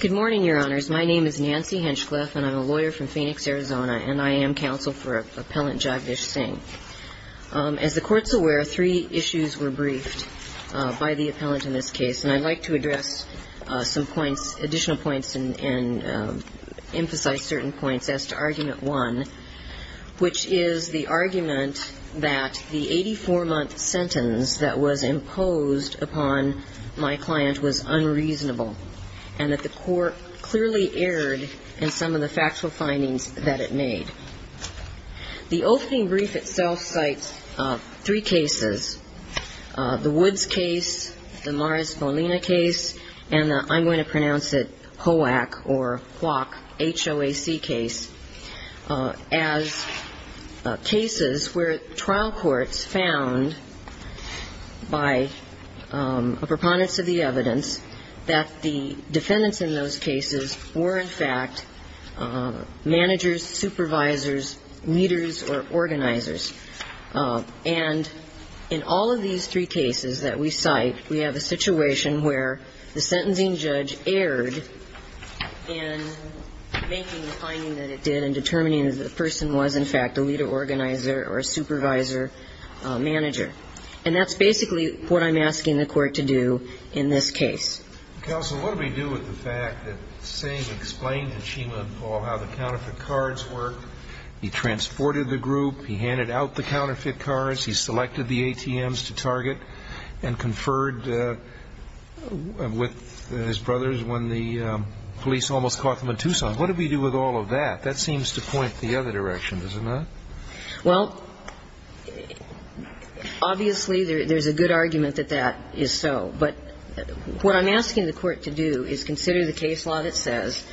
Good morning, Your Honors. My name is Nancy Henschkleff, and I'm a lawyer from Phoenix, Arizona, and I am counsel for Appellant Jagdish Singh. As the Court's aware, three issues were briefed by the appellant in this case, and I'd like to address some points, additional points and emphasize certain points as to Argument 1, which is the argument that the 84-month sentence that was imposed upon my client was unreasonable, and that the Court clearly erred in some of the factual findings that it made. The opening brief itself cites three cases, the Woods case, the Morris-Bolina case, and the, I'm going to pronounce it, a preponderance of the evidence, that the defendants in those cases were, in fact, managers, supervisors, leaders, or organizers. And in all of these three cases that we cite, we have a situation where the sentencing judge erred in making the finding that it did and determining that the person was, in fact, a leader, organizer, or a supervisor, manager. And that's basically what I'm asking the Court to do in this case. Counsel, what do we do with the fact that Singh explained to Chima and Paul how the counterfeit cards work? He transported the group. He handed out the counterfeit cards. He selected the ATMs to target and conferred with his brothers when the police almost caught them in Tucson. What do we do with all of that? That seems to point the other direction, does it not? Well, obviously, there's a good argument that that is so. But what I'm asking the Court to do is consider the case law that says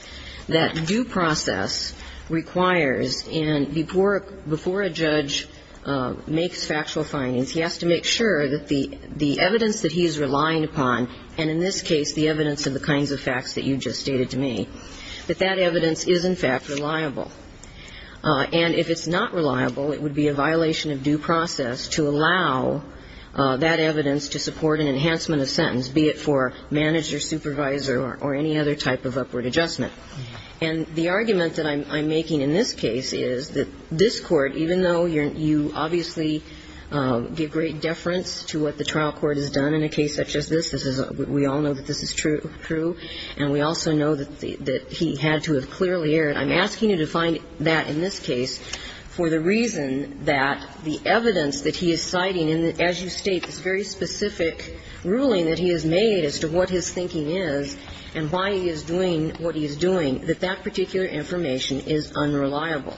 that due process requires, and before a judge makes factual findings, he has to make sure that the evidence that he is relying upon, and in this case, the evidence of the kinds of facts that you just stated to me, that that evidence is, in fact, reliable. And if it's not reliable, it would be a violation of due process to allow that evidence to support an enhancement of sentence, be it for manager, supervisor, or any other type of upward adjustment. And the argument that I'm making in this case is that this Court, even though you obviously give great deference to what the trial court has done in a case such as this, we all know that this is true, and we also know that he had to have clearly erred. I'm asking you to find that in this case for the reason that the evidence that he is citing, and as you state, this very specific ruling that he has made as to what his thinking is and why he is doing what he is doing, that that particular information is unreliable.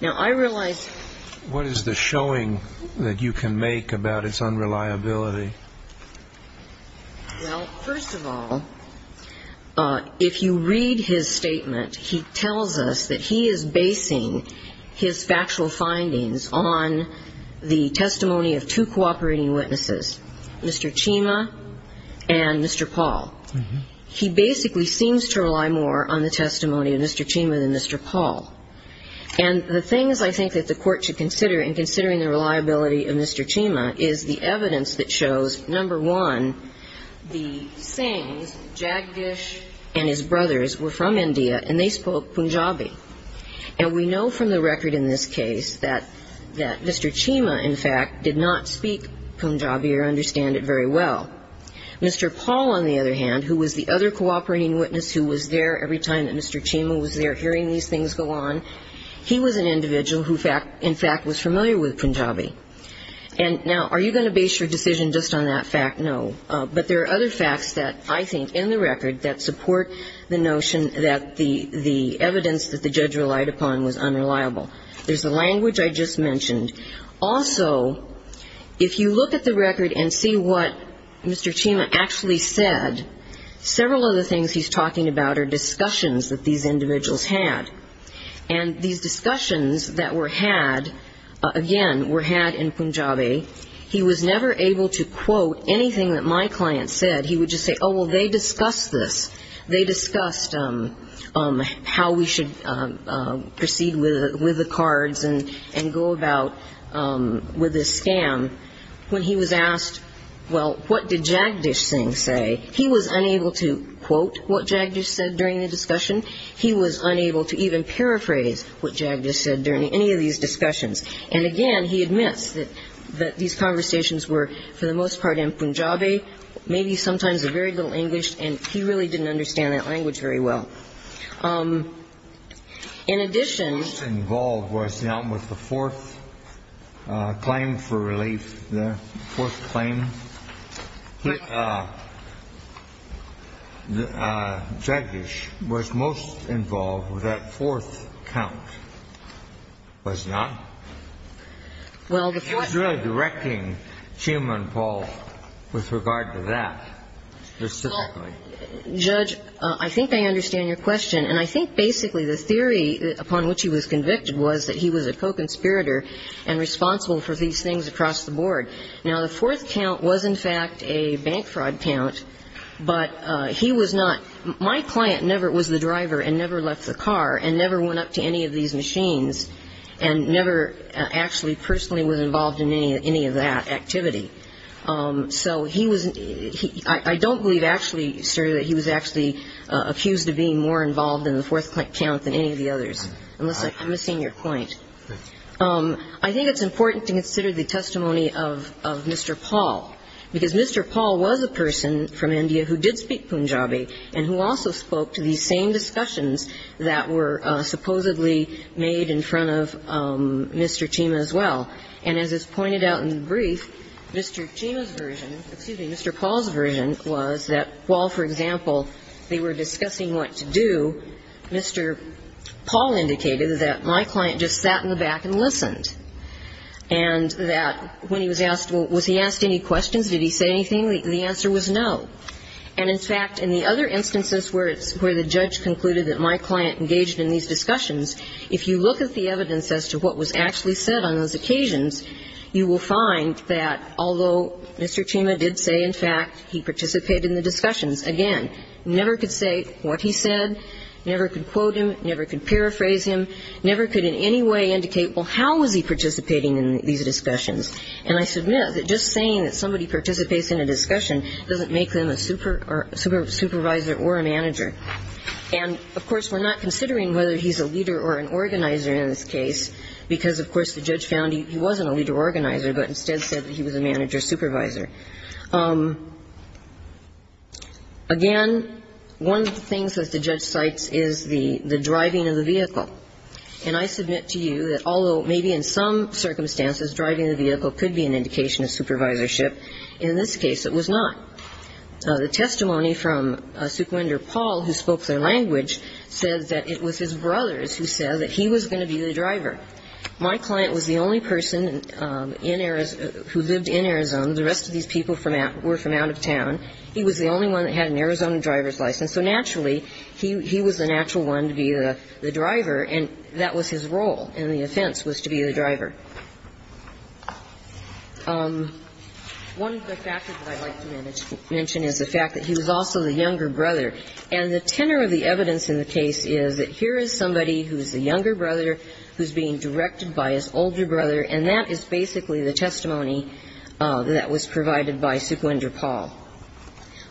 Now, I realize... What is the showing that you can make about its unreliability? Well, first of all, if you read his statement, he tells us that he is basing his factual findings on the testimony of two cooperating witnesses, Mr. Chima and Mr. Paul. He basically seems to rely more on the testimony of Mr. Chima than Mr. Paul. And the things I think that the Court should consider in considering the reliability of Mr. Chima is the evidence that shows, number one, the sayings, Jagdish and his brothers were from India and they spoke Punjabi. And we know from the record in this case that Mr. Chima, in fact, did not speak Punjabi or understand it very well. Mr. Paul, on the other hand, who was the other cooperating witness who was there every time that Mr. Chima was there hearing these things go on, he was an individual who, in fact, was familiar with Punjabi. And now, are you going to base your decision just on that fact? No. But there are other facts that I think in the record that support the notion that the evidence that the judge relied upon was unreliable. There's the language I just mentioned. Also, if you look at the record and see what Mr. Chima actually said, several of the things he's talking about are discussions that these individuals had. And these discussions that were had, again, were had in Punjabi. He was never able to quote anything that my client said. He would just say, oh, well, they discussed this. They discussed how we should proceed with the cards and go about with this scam. When he was asked, well, what did Jagdish Singh say, he was unable to quote what Jagdish said during the discussion. He was unable to even paraphrase what Jagdish said during any of these discussions. And, again, he admits that these conversations were, for the most part, in Punjabi, maybe sometimes a very little English, and he really didn't understand that language very well. In addition. The most involved was the one with the fourth claim for relief, the fourth claim. Jagdish was most involved with that fourth count, was not? He was really directing Chima and Paul with regard to that, specifically. Judge, I think I understand your question. And I think basically the theory upon which he was convicted was that he was a co-conspirator and responsible for these things across the board. Now, the fourth count was, in fact, a bank fraud count, but he was not. My client never was the driver and never left the car and never went up to any of these machines and never actually personally was involved in any of that activity. So he was I don't believe actually, sir, that he was actually accused of being more involved in the fourth count than any of the others, unless I'm missing your point. I think it's important to consider the testimony of Mr. Paul, because Mr. Paul was a person from India who did speak Punjabi and who also spoke to these same discussions that were supposedly made in front of Mr. Chima as well. And as is pointed out in the brief, Mr. Chima's version, excuse me, Mr. Paul's version was that while, for example, they were discussing what to do, Mr. Paul indicated that my client just sat in the back and listened, and that when he was asked, well, was he asked any questions? Did he say anything? The answer was no. And, in fact, in the other instances where the judge concluded that my client engaged in these discussions, if you look at the evidence as to what was actually said on those occasions, you will find that although Mr. Chima did say, in fact, he participated in the discussions, again, never could say what he said, never could quote him, never could paraphrase him, never could in any way indicate, well, how was he participating in these discussions. And I submit that just saying that somebody participates in a discussion doesn't make them a supervisor or a manager. And, of course, we're not considering whether he's a leader or an organizer in this case, because, of course, the judge found he wasn't a leader or organizer but instead said that he was a manager or supervisor. Again, one of the things that the judge cites is the driving of the vehicle. And I submit to you that although maybe in some circumstances driving the vehicle could be an indication of supervisorship, in this case it was not. The testimony from Suquinder Paul, who spoke their language, says that it was his brothers who said that he was going to be the driver. My client was the only person in Arizona who lived in Arizona. The rest of these people were from out of town. He was the only one that had an Arizona driver's license. So naturally, he was the natural one to be the driver, and that was his role, and the offense was to be the driver. One of the factors that I'd like to mention is the fact that he was also the younger brother. And the tenor of the evidence in the case is that here is somebody who's the younger brother who's being directed by his older brother, and that is basically the testimony that was provided by Suquinder Paul.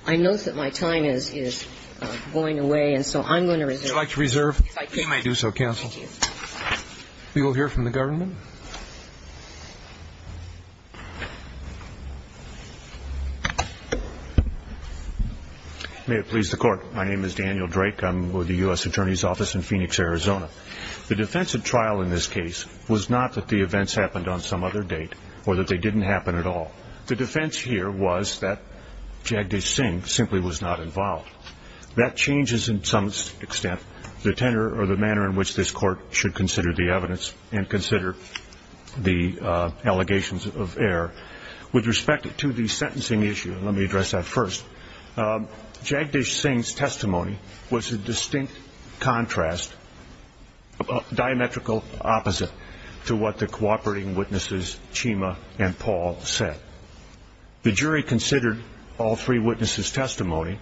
I note that my time is going away, and so I'm going to reserve. Would you like to reserve? If I could. You may do so, counsel. Thank you. We will hear from the government. May it please the Court. My name is Daniel Drake. I'm with the U.S. Attorney's Office in Phoenix, Arizona. The defense at trial in this case was not that the events happened on some other date or that they didn't happen at all. The defense here was that Jagdish Singh simply was not involved. That changes in some extent the tenor or the manner in which this Court should consider the evidence and consider the allegations of error. With respect to the sentencing issue, let me address that first. Jagdish Singh's testimony was a distinct contrast, a diametrical opposite to what the cooperating witnesses, Chima and Paul, said. The jury considered all three witnesses' testimony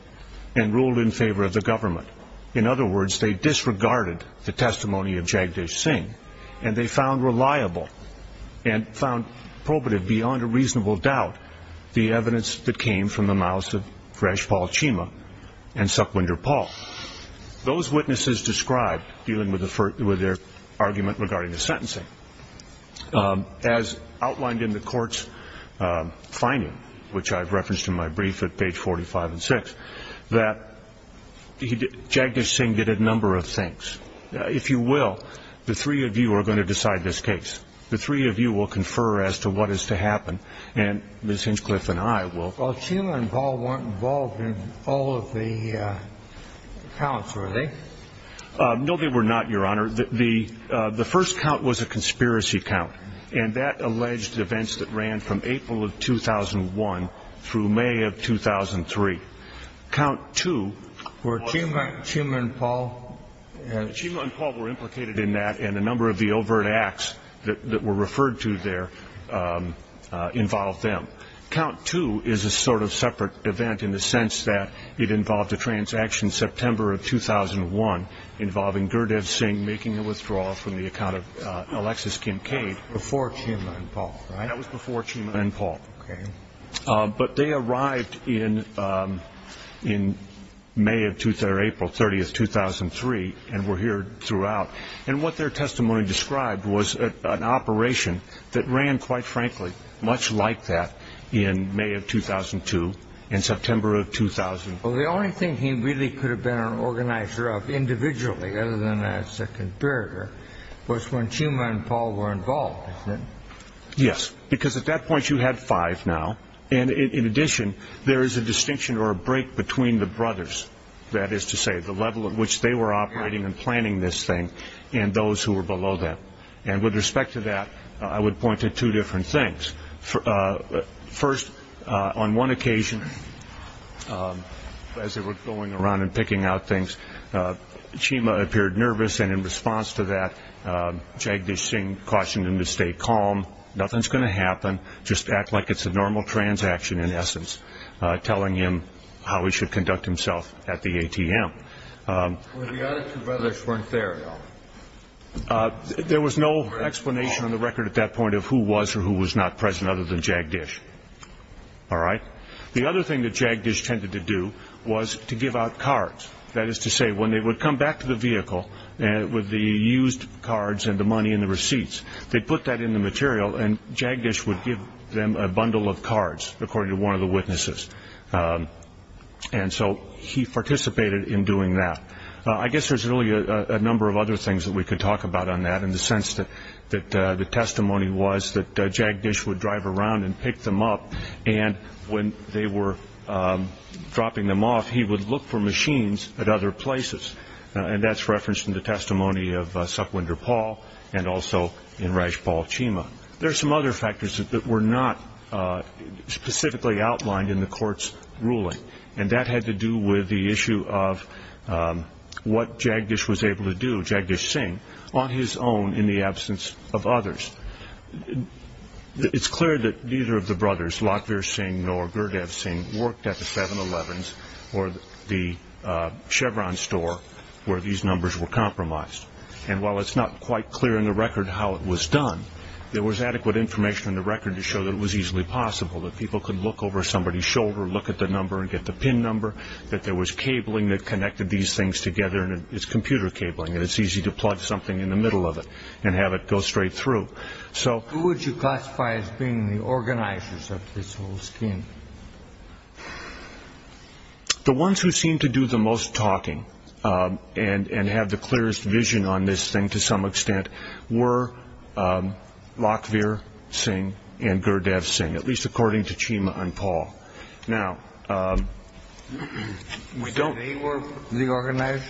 and ruled in favor of the government. In other words, they disregarded the testimony of Jagdish Singh, and they found reliable and found probative beyond a reasonable doubt the evidence that came from the mouths of Rajpal Chima and Suquinder Paul. Those witnesses described, dealing with their argument regarding the sentencing, as outlined in the Court's finding, which I've referenced in my brief at page 45 and 46, that Jagdish Singh did a number of things. If you will, the three of you are going to decide this case. The three of you will confer as to what is to happen, and Ms. Hinchcliffe and I will. Well, Chima and Paul weren't involved in all of the counts, were they? No, they were not, Your Honor. Your Honor, the first count was a conspiracy count, and that alleged events that ran from April of 2001 through May of 2003. Count two was... Where Chima and Paul... Chima and Paul were implicated in that, and a number of the overt acts that were referred to there involved them. Count two is a sort of separate event in the sense that it involved a transaction in September of 2001 involving Gurdev Singh making a withdrawal from the account of Alexis Kincaid. Before Chima and Paul, right? That was before Chima and Paul. Okay. But they arrived in May or April 30, 2003, and were here throughout. And what their testimony described was an operation that ran, quite frankly, much like that in May of 2002 and September of 2001. Well, the only thing he really could have been an organizer of individually other than as a comparator was when Chima and Paul were involved, isn't it? Yes, because at that point you had five now. And in addition, there is a distinction or a break between the brothers, that is to say, the level at which they were operating and planning this thing and those who were below them. And with respect to that, I would point to two different things. First, on one occasion, as they were going around and picking out things, Chima appeared nervous, and in response to that, Jagdish Singh cautioned him to stay calm. Nothing's going to happen. Just act like it's a normal transaction, in essence, telling him how he should conduct himself at the ATM. Well, the other two brothers weren't there, though. There was no explanation on the record at that point of who was or who was not present other than Jagdish. All right? The other thing that Jagdish tended to do was to give out cards, that is to say, when they would come back to the vehicle with the used cards and the money and the receipts, they'd put that in the material, and Jagdish would give them a bundle of cards, according to one of the witnesses. And so he participated in doing that. I guess there's really a number of other things that we could talk about on that in the sense that the testimony was that Jagdish would drive around and pick them up, and when they were dropping them off, he would look for machines at other places. And that's referenced in the testimony of Supwinder Paul and also in Rajpal Chima. There are some other factors that were not specifically outlined in the court's ruling, and that had to do with the issue of what Jagdish was able to do, Jagdish Singh, on his own in the absence of others. It's clear that neither of the brothers, Latvir Singh nor Gurdev Singh, worked at the 7-Elevens or the Chevron store where these numbers were compromised. And while it's not quite clear in the record how it was done, there was adequate information in the record to show that it was easily possible, that people could look over somebody's shoulder, look at the number and get the pin number, that there was cabling that connected these things together, and it's computer cabling, and it's easy to plug something in the middle of it and have it go straight through. Who would you classify as being the organizers of this whole scheme? The ones who seemed to do the most talking and have the clearest vision on this thing to some extent were Latvir Singh and Gurdev Singh, at least according to Cheema and Paul. So they were the organizers,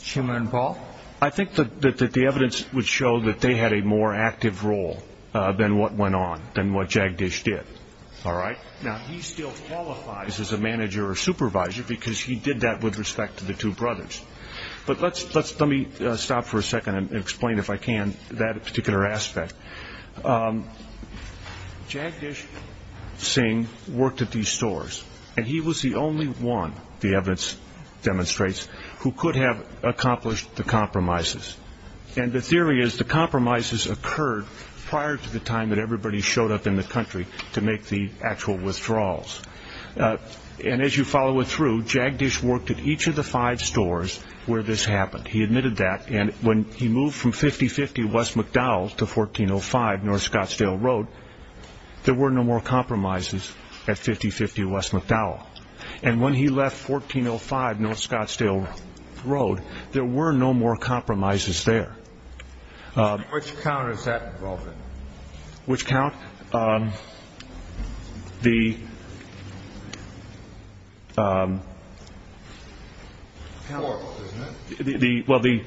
Cheema and Paul? I think that the evidence would show that they had a more active role than what went on, than what Jagdish did. Now, he still qualifies as a manager or supervisor because he did that with respect to the two brothers. But let me stop for a second and explain, if I can, that particular aspect. Jagdish Singh worked at these stores, and he was the only one, the evidence demonstrates, who could have accomplished the compromises. And the theory is the compromises occurred prior to the time that everybody showed up in the country to make the actual withdrawals. And as you follow it through, Jagdish worked at each of the five stores where this happened. He admitted that, and when he moved from 5050 West McDowell to 1405 North Scottsdale Road, there were no more compromises at 5050 West McDowell. And when he left 1405 North Scottsdale Road, there were no more compromises there. Which count is that involved in? Which count? Well, the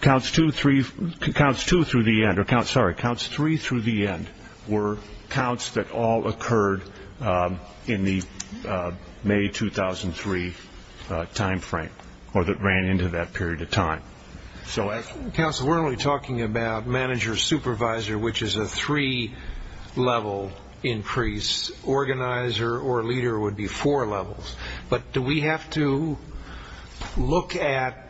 counts two through the end were counts that all occurred in the May 2003 time frame or that ran into that period of time. Counsel, we're only talking about manager-supervisor, which is a three-level increase. Organizer or leader would be four levels. But do we have to look at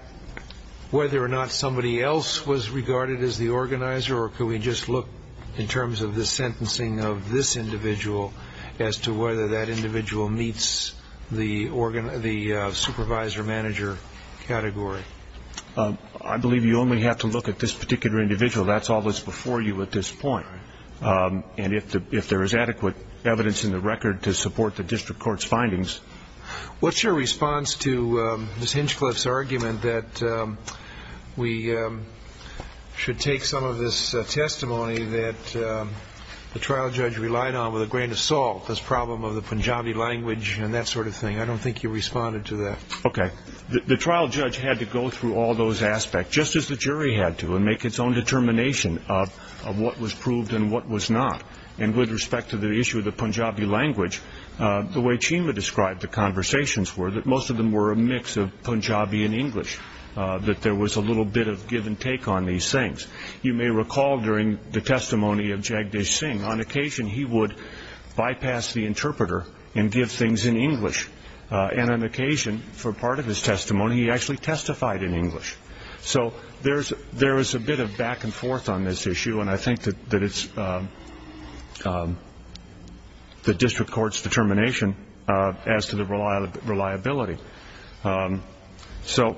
whether or not somebody else was regarded as the organizer, or could we just look in terms of the sentencing of this individual as to whether that individual meets the supervisor-manager category? I believe you only have to look at this particular individual. That's all that's before you at this point. And if there is adequate evidence in the record to support the district court's findings. What's your response to Ms. Hinchcliffe's argument that we should take some of this testimony that the trial judge relied on with a grain of salt, this problem of the Punjabi language and that sort of thing? I don't think you responded to that. Okay. The trial judge had to go through all those aspects, just as the jury had to, and make its own determination of what was proved and what was not. And with respect to the issue of the Punjabi language, the way Chima described the conversations were that most of them were a mix of Punjabi and English, that there was a little bit of give and take on these things. You may recall during the testimony of Jagdish Singh, on occasion he would bypass the interpreter and give things in English, and on occasion for part of his testimony he actually testified in English. So there is a bit of back and forth on this issue, and I think that it's the district court's determination as to the reliability. So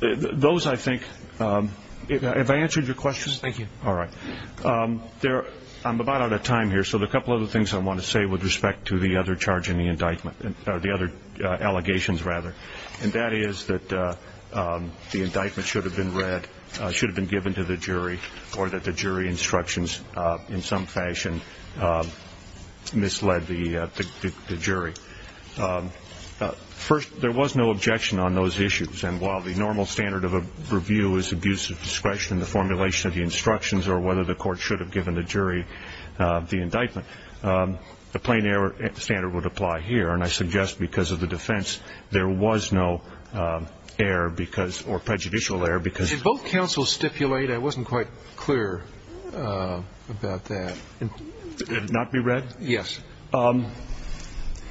those, I think, have I answered your questions? Thank you. All right. I'm about out of time here, so there are a couple of other things I want to say with respect to the other charge in the indictment, or the other allegations, rather, and that is that the indictment should have been read, should have been given to the jury, or that the jury instructions in some fashion misled the jury. First, there was no objection on those issues, and while the normal standard of a review is abuse of discretion, the formulation of the instructions, or whether the court should have given the jury the indictment, the plain error standard would apply here, and I suggest because of the defense there was no error or prejudicial error. Did both counsels stipulate? I wasn't quite clear about that. It did not be read? Yes.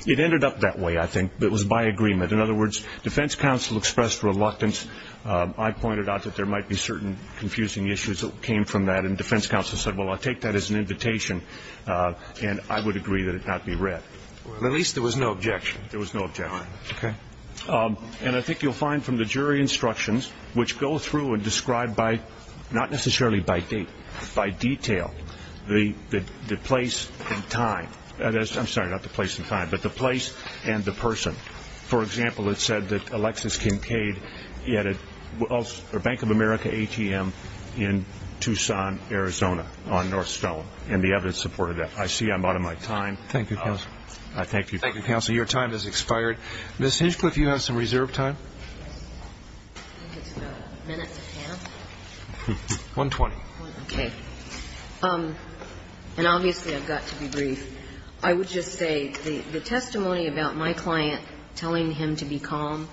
It ended up that way, I think. It was by agreement. In other words, defense counsel expressed reluctance. I pointed out that there might be certain confusing issues that came from that, and defense counsel said, well, I'll take that as an invitation, and I would agree that it not be read. Well, at least there was no objection. There was no objection. Okay. And I think you'll find from the jury instructions, which go through and describe by, not necessarily by date, by detail, the place and time. I'm sorry, not the place and time, but the place and the person. For example, it said that Alexis Kincaid, he had a Bank of America ATM in Tucson, Arizona on North Stone, and the evidence supported that. I see I'm out of my time. Thank you, counsel. Thank you. Thank you, counsel. Your time has expired. Ms. Hinchcliffe, you have some reserve time? I think it's about a minute and a half. 120. Okay. And obviously I've got to be brief. I would just say the testimony about my client telling him to be calm,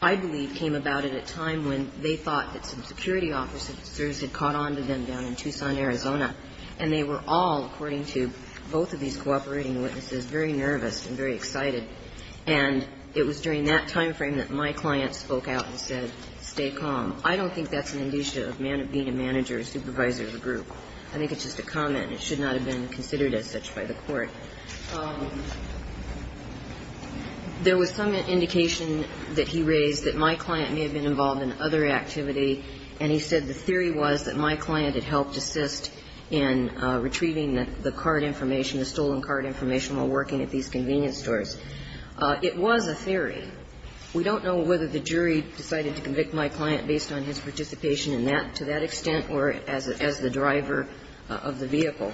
I believe, came about at a time when they thought that some security officers had caught on to them down in Tucson, Arizona. And they were all, according to both of these cooperating witnesses, very nervous and very excited. And it was during that time frame that my client spoke out and said, stay calm. I don't think that's an indicia of being a manager or supervisor of a group. I think it's just a comment. It should not have been considered as such by the Court. There was some indication that he raised that my client may have been involved in other activity, and he said the theory was that my client had helped assist in retrieving the card information, the stolen card information, while working at these convenience stores. It was a theory. We don't know whether the jury decided to convict my client based on his participation in that, to that extent, or as the driver of the vehicle.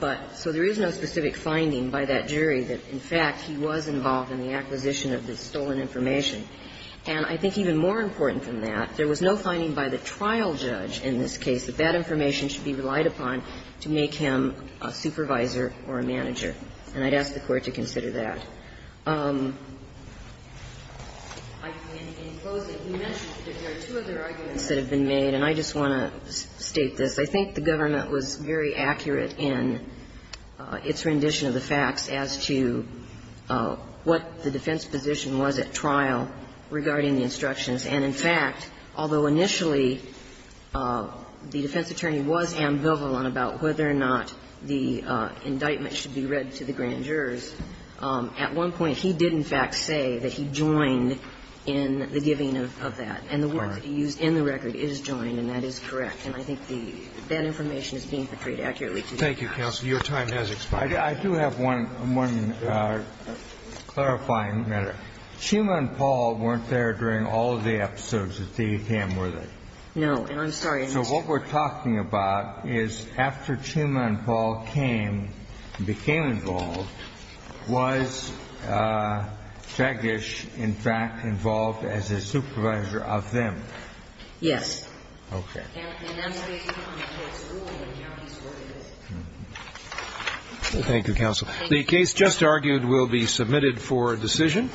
But so there is no specific finding by that jury that, in fact, he was involved in the acquisition of the stolen information. And I think even more important than that, there was no finding by the trial judge in this case that that information should be relied upon to make him a supervisor or a manager, and I'd ask the Court to consider that. So in closing, you mentioned that there are two other arguments that have been made, and I just want to state this. I think the government was very accurate in its rendition of the facts as to what the defense position was at trial regarding the instructions. And, in fact, although initially the defense attorney was ambivalent about whether or not the indictment should be read to the grand jurors, at one point he did, in fact, say that he joined in the giving of that. And the words used in the record is joined, and that is correct. And I think that information is being portrayed accurately. Thank you, counsel. Your time has expired. I do have one clarifying matter. Chuma and Paul weren't there during all of the episodes at the ATM, were they? No. And I'm sorry. So what we're talking about is after Chuma and Paul came and became involved, was Fegish, in fact, involved as a supervisor of them? Yes. Okay. And that's based on the case rule, and that's what it is. Thank you, counsel. The case just argued will be submitted for decision.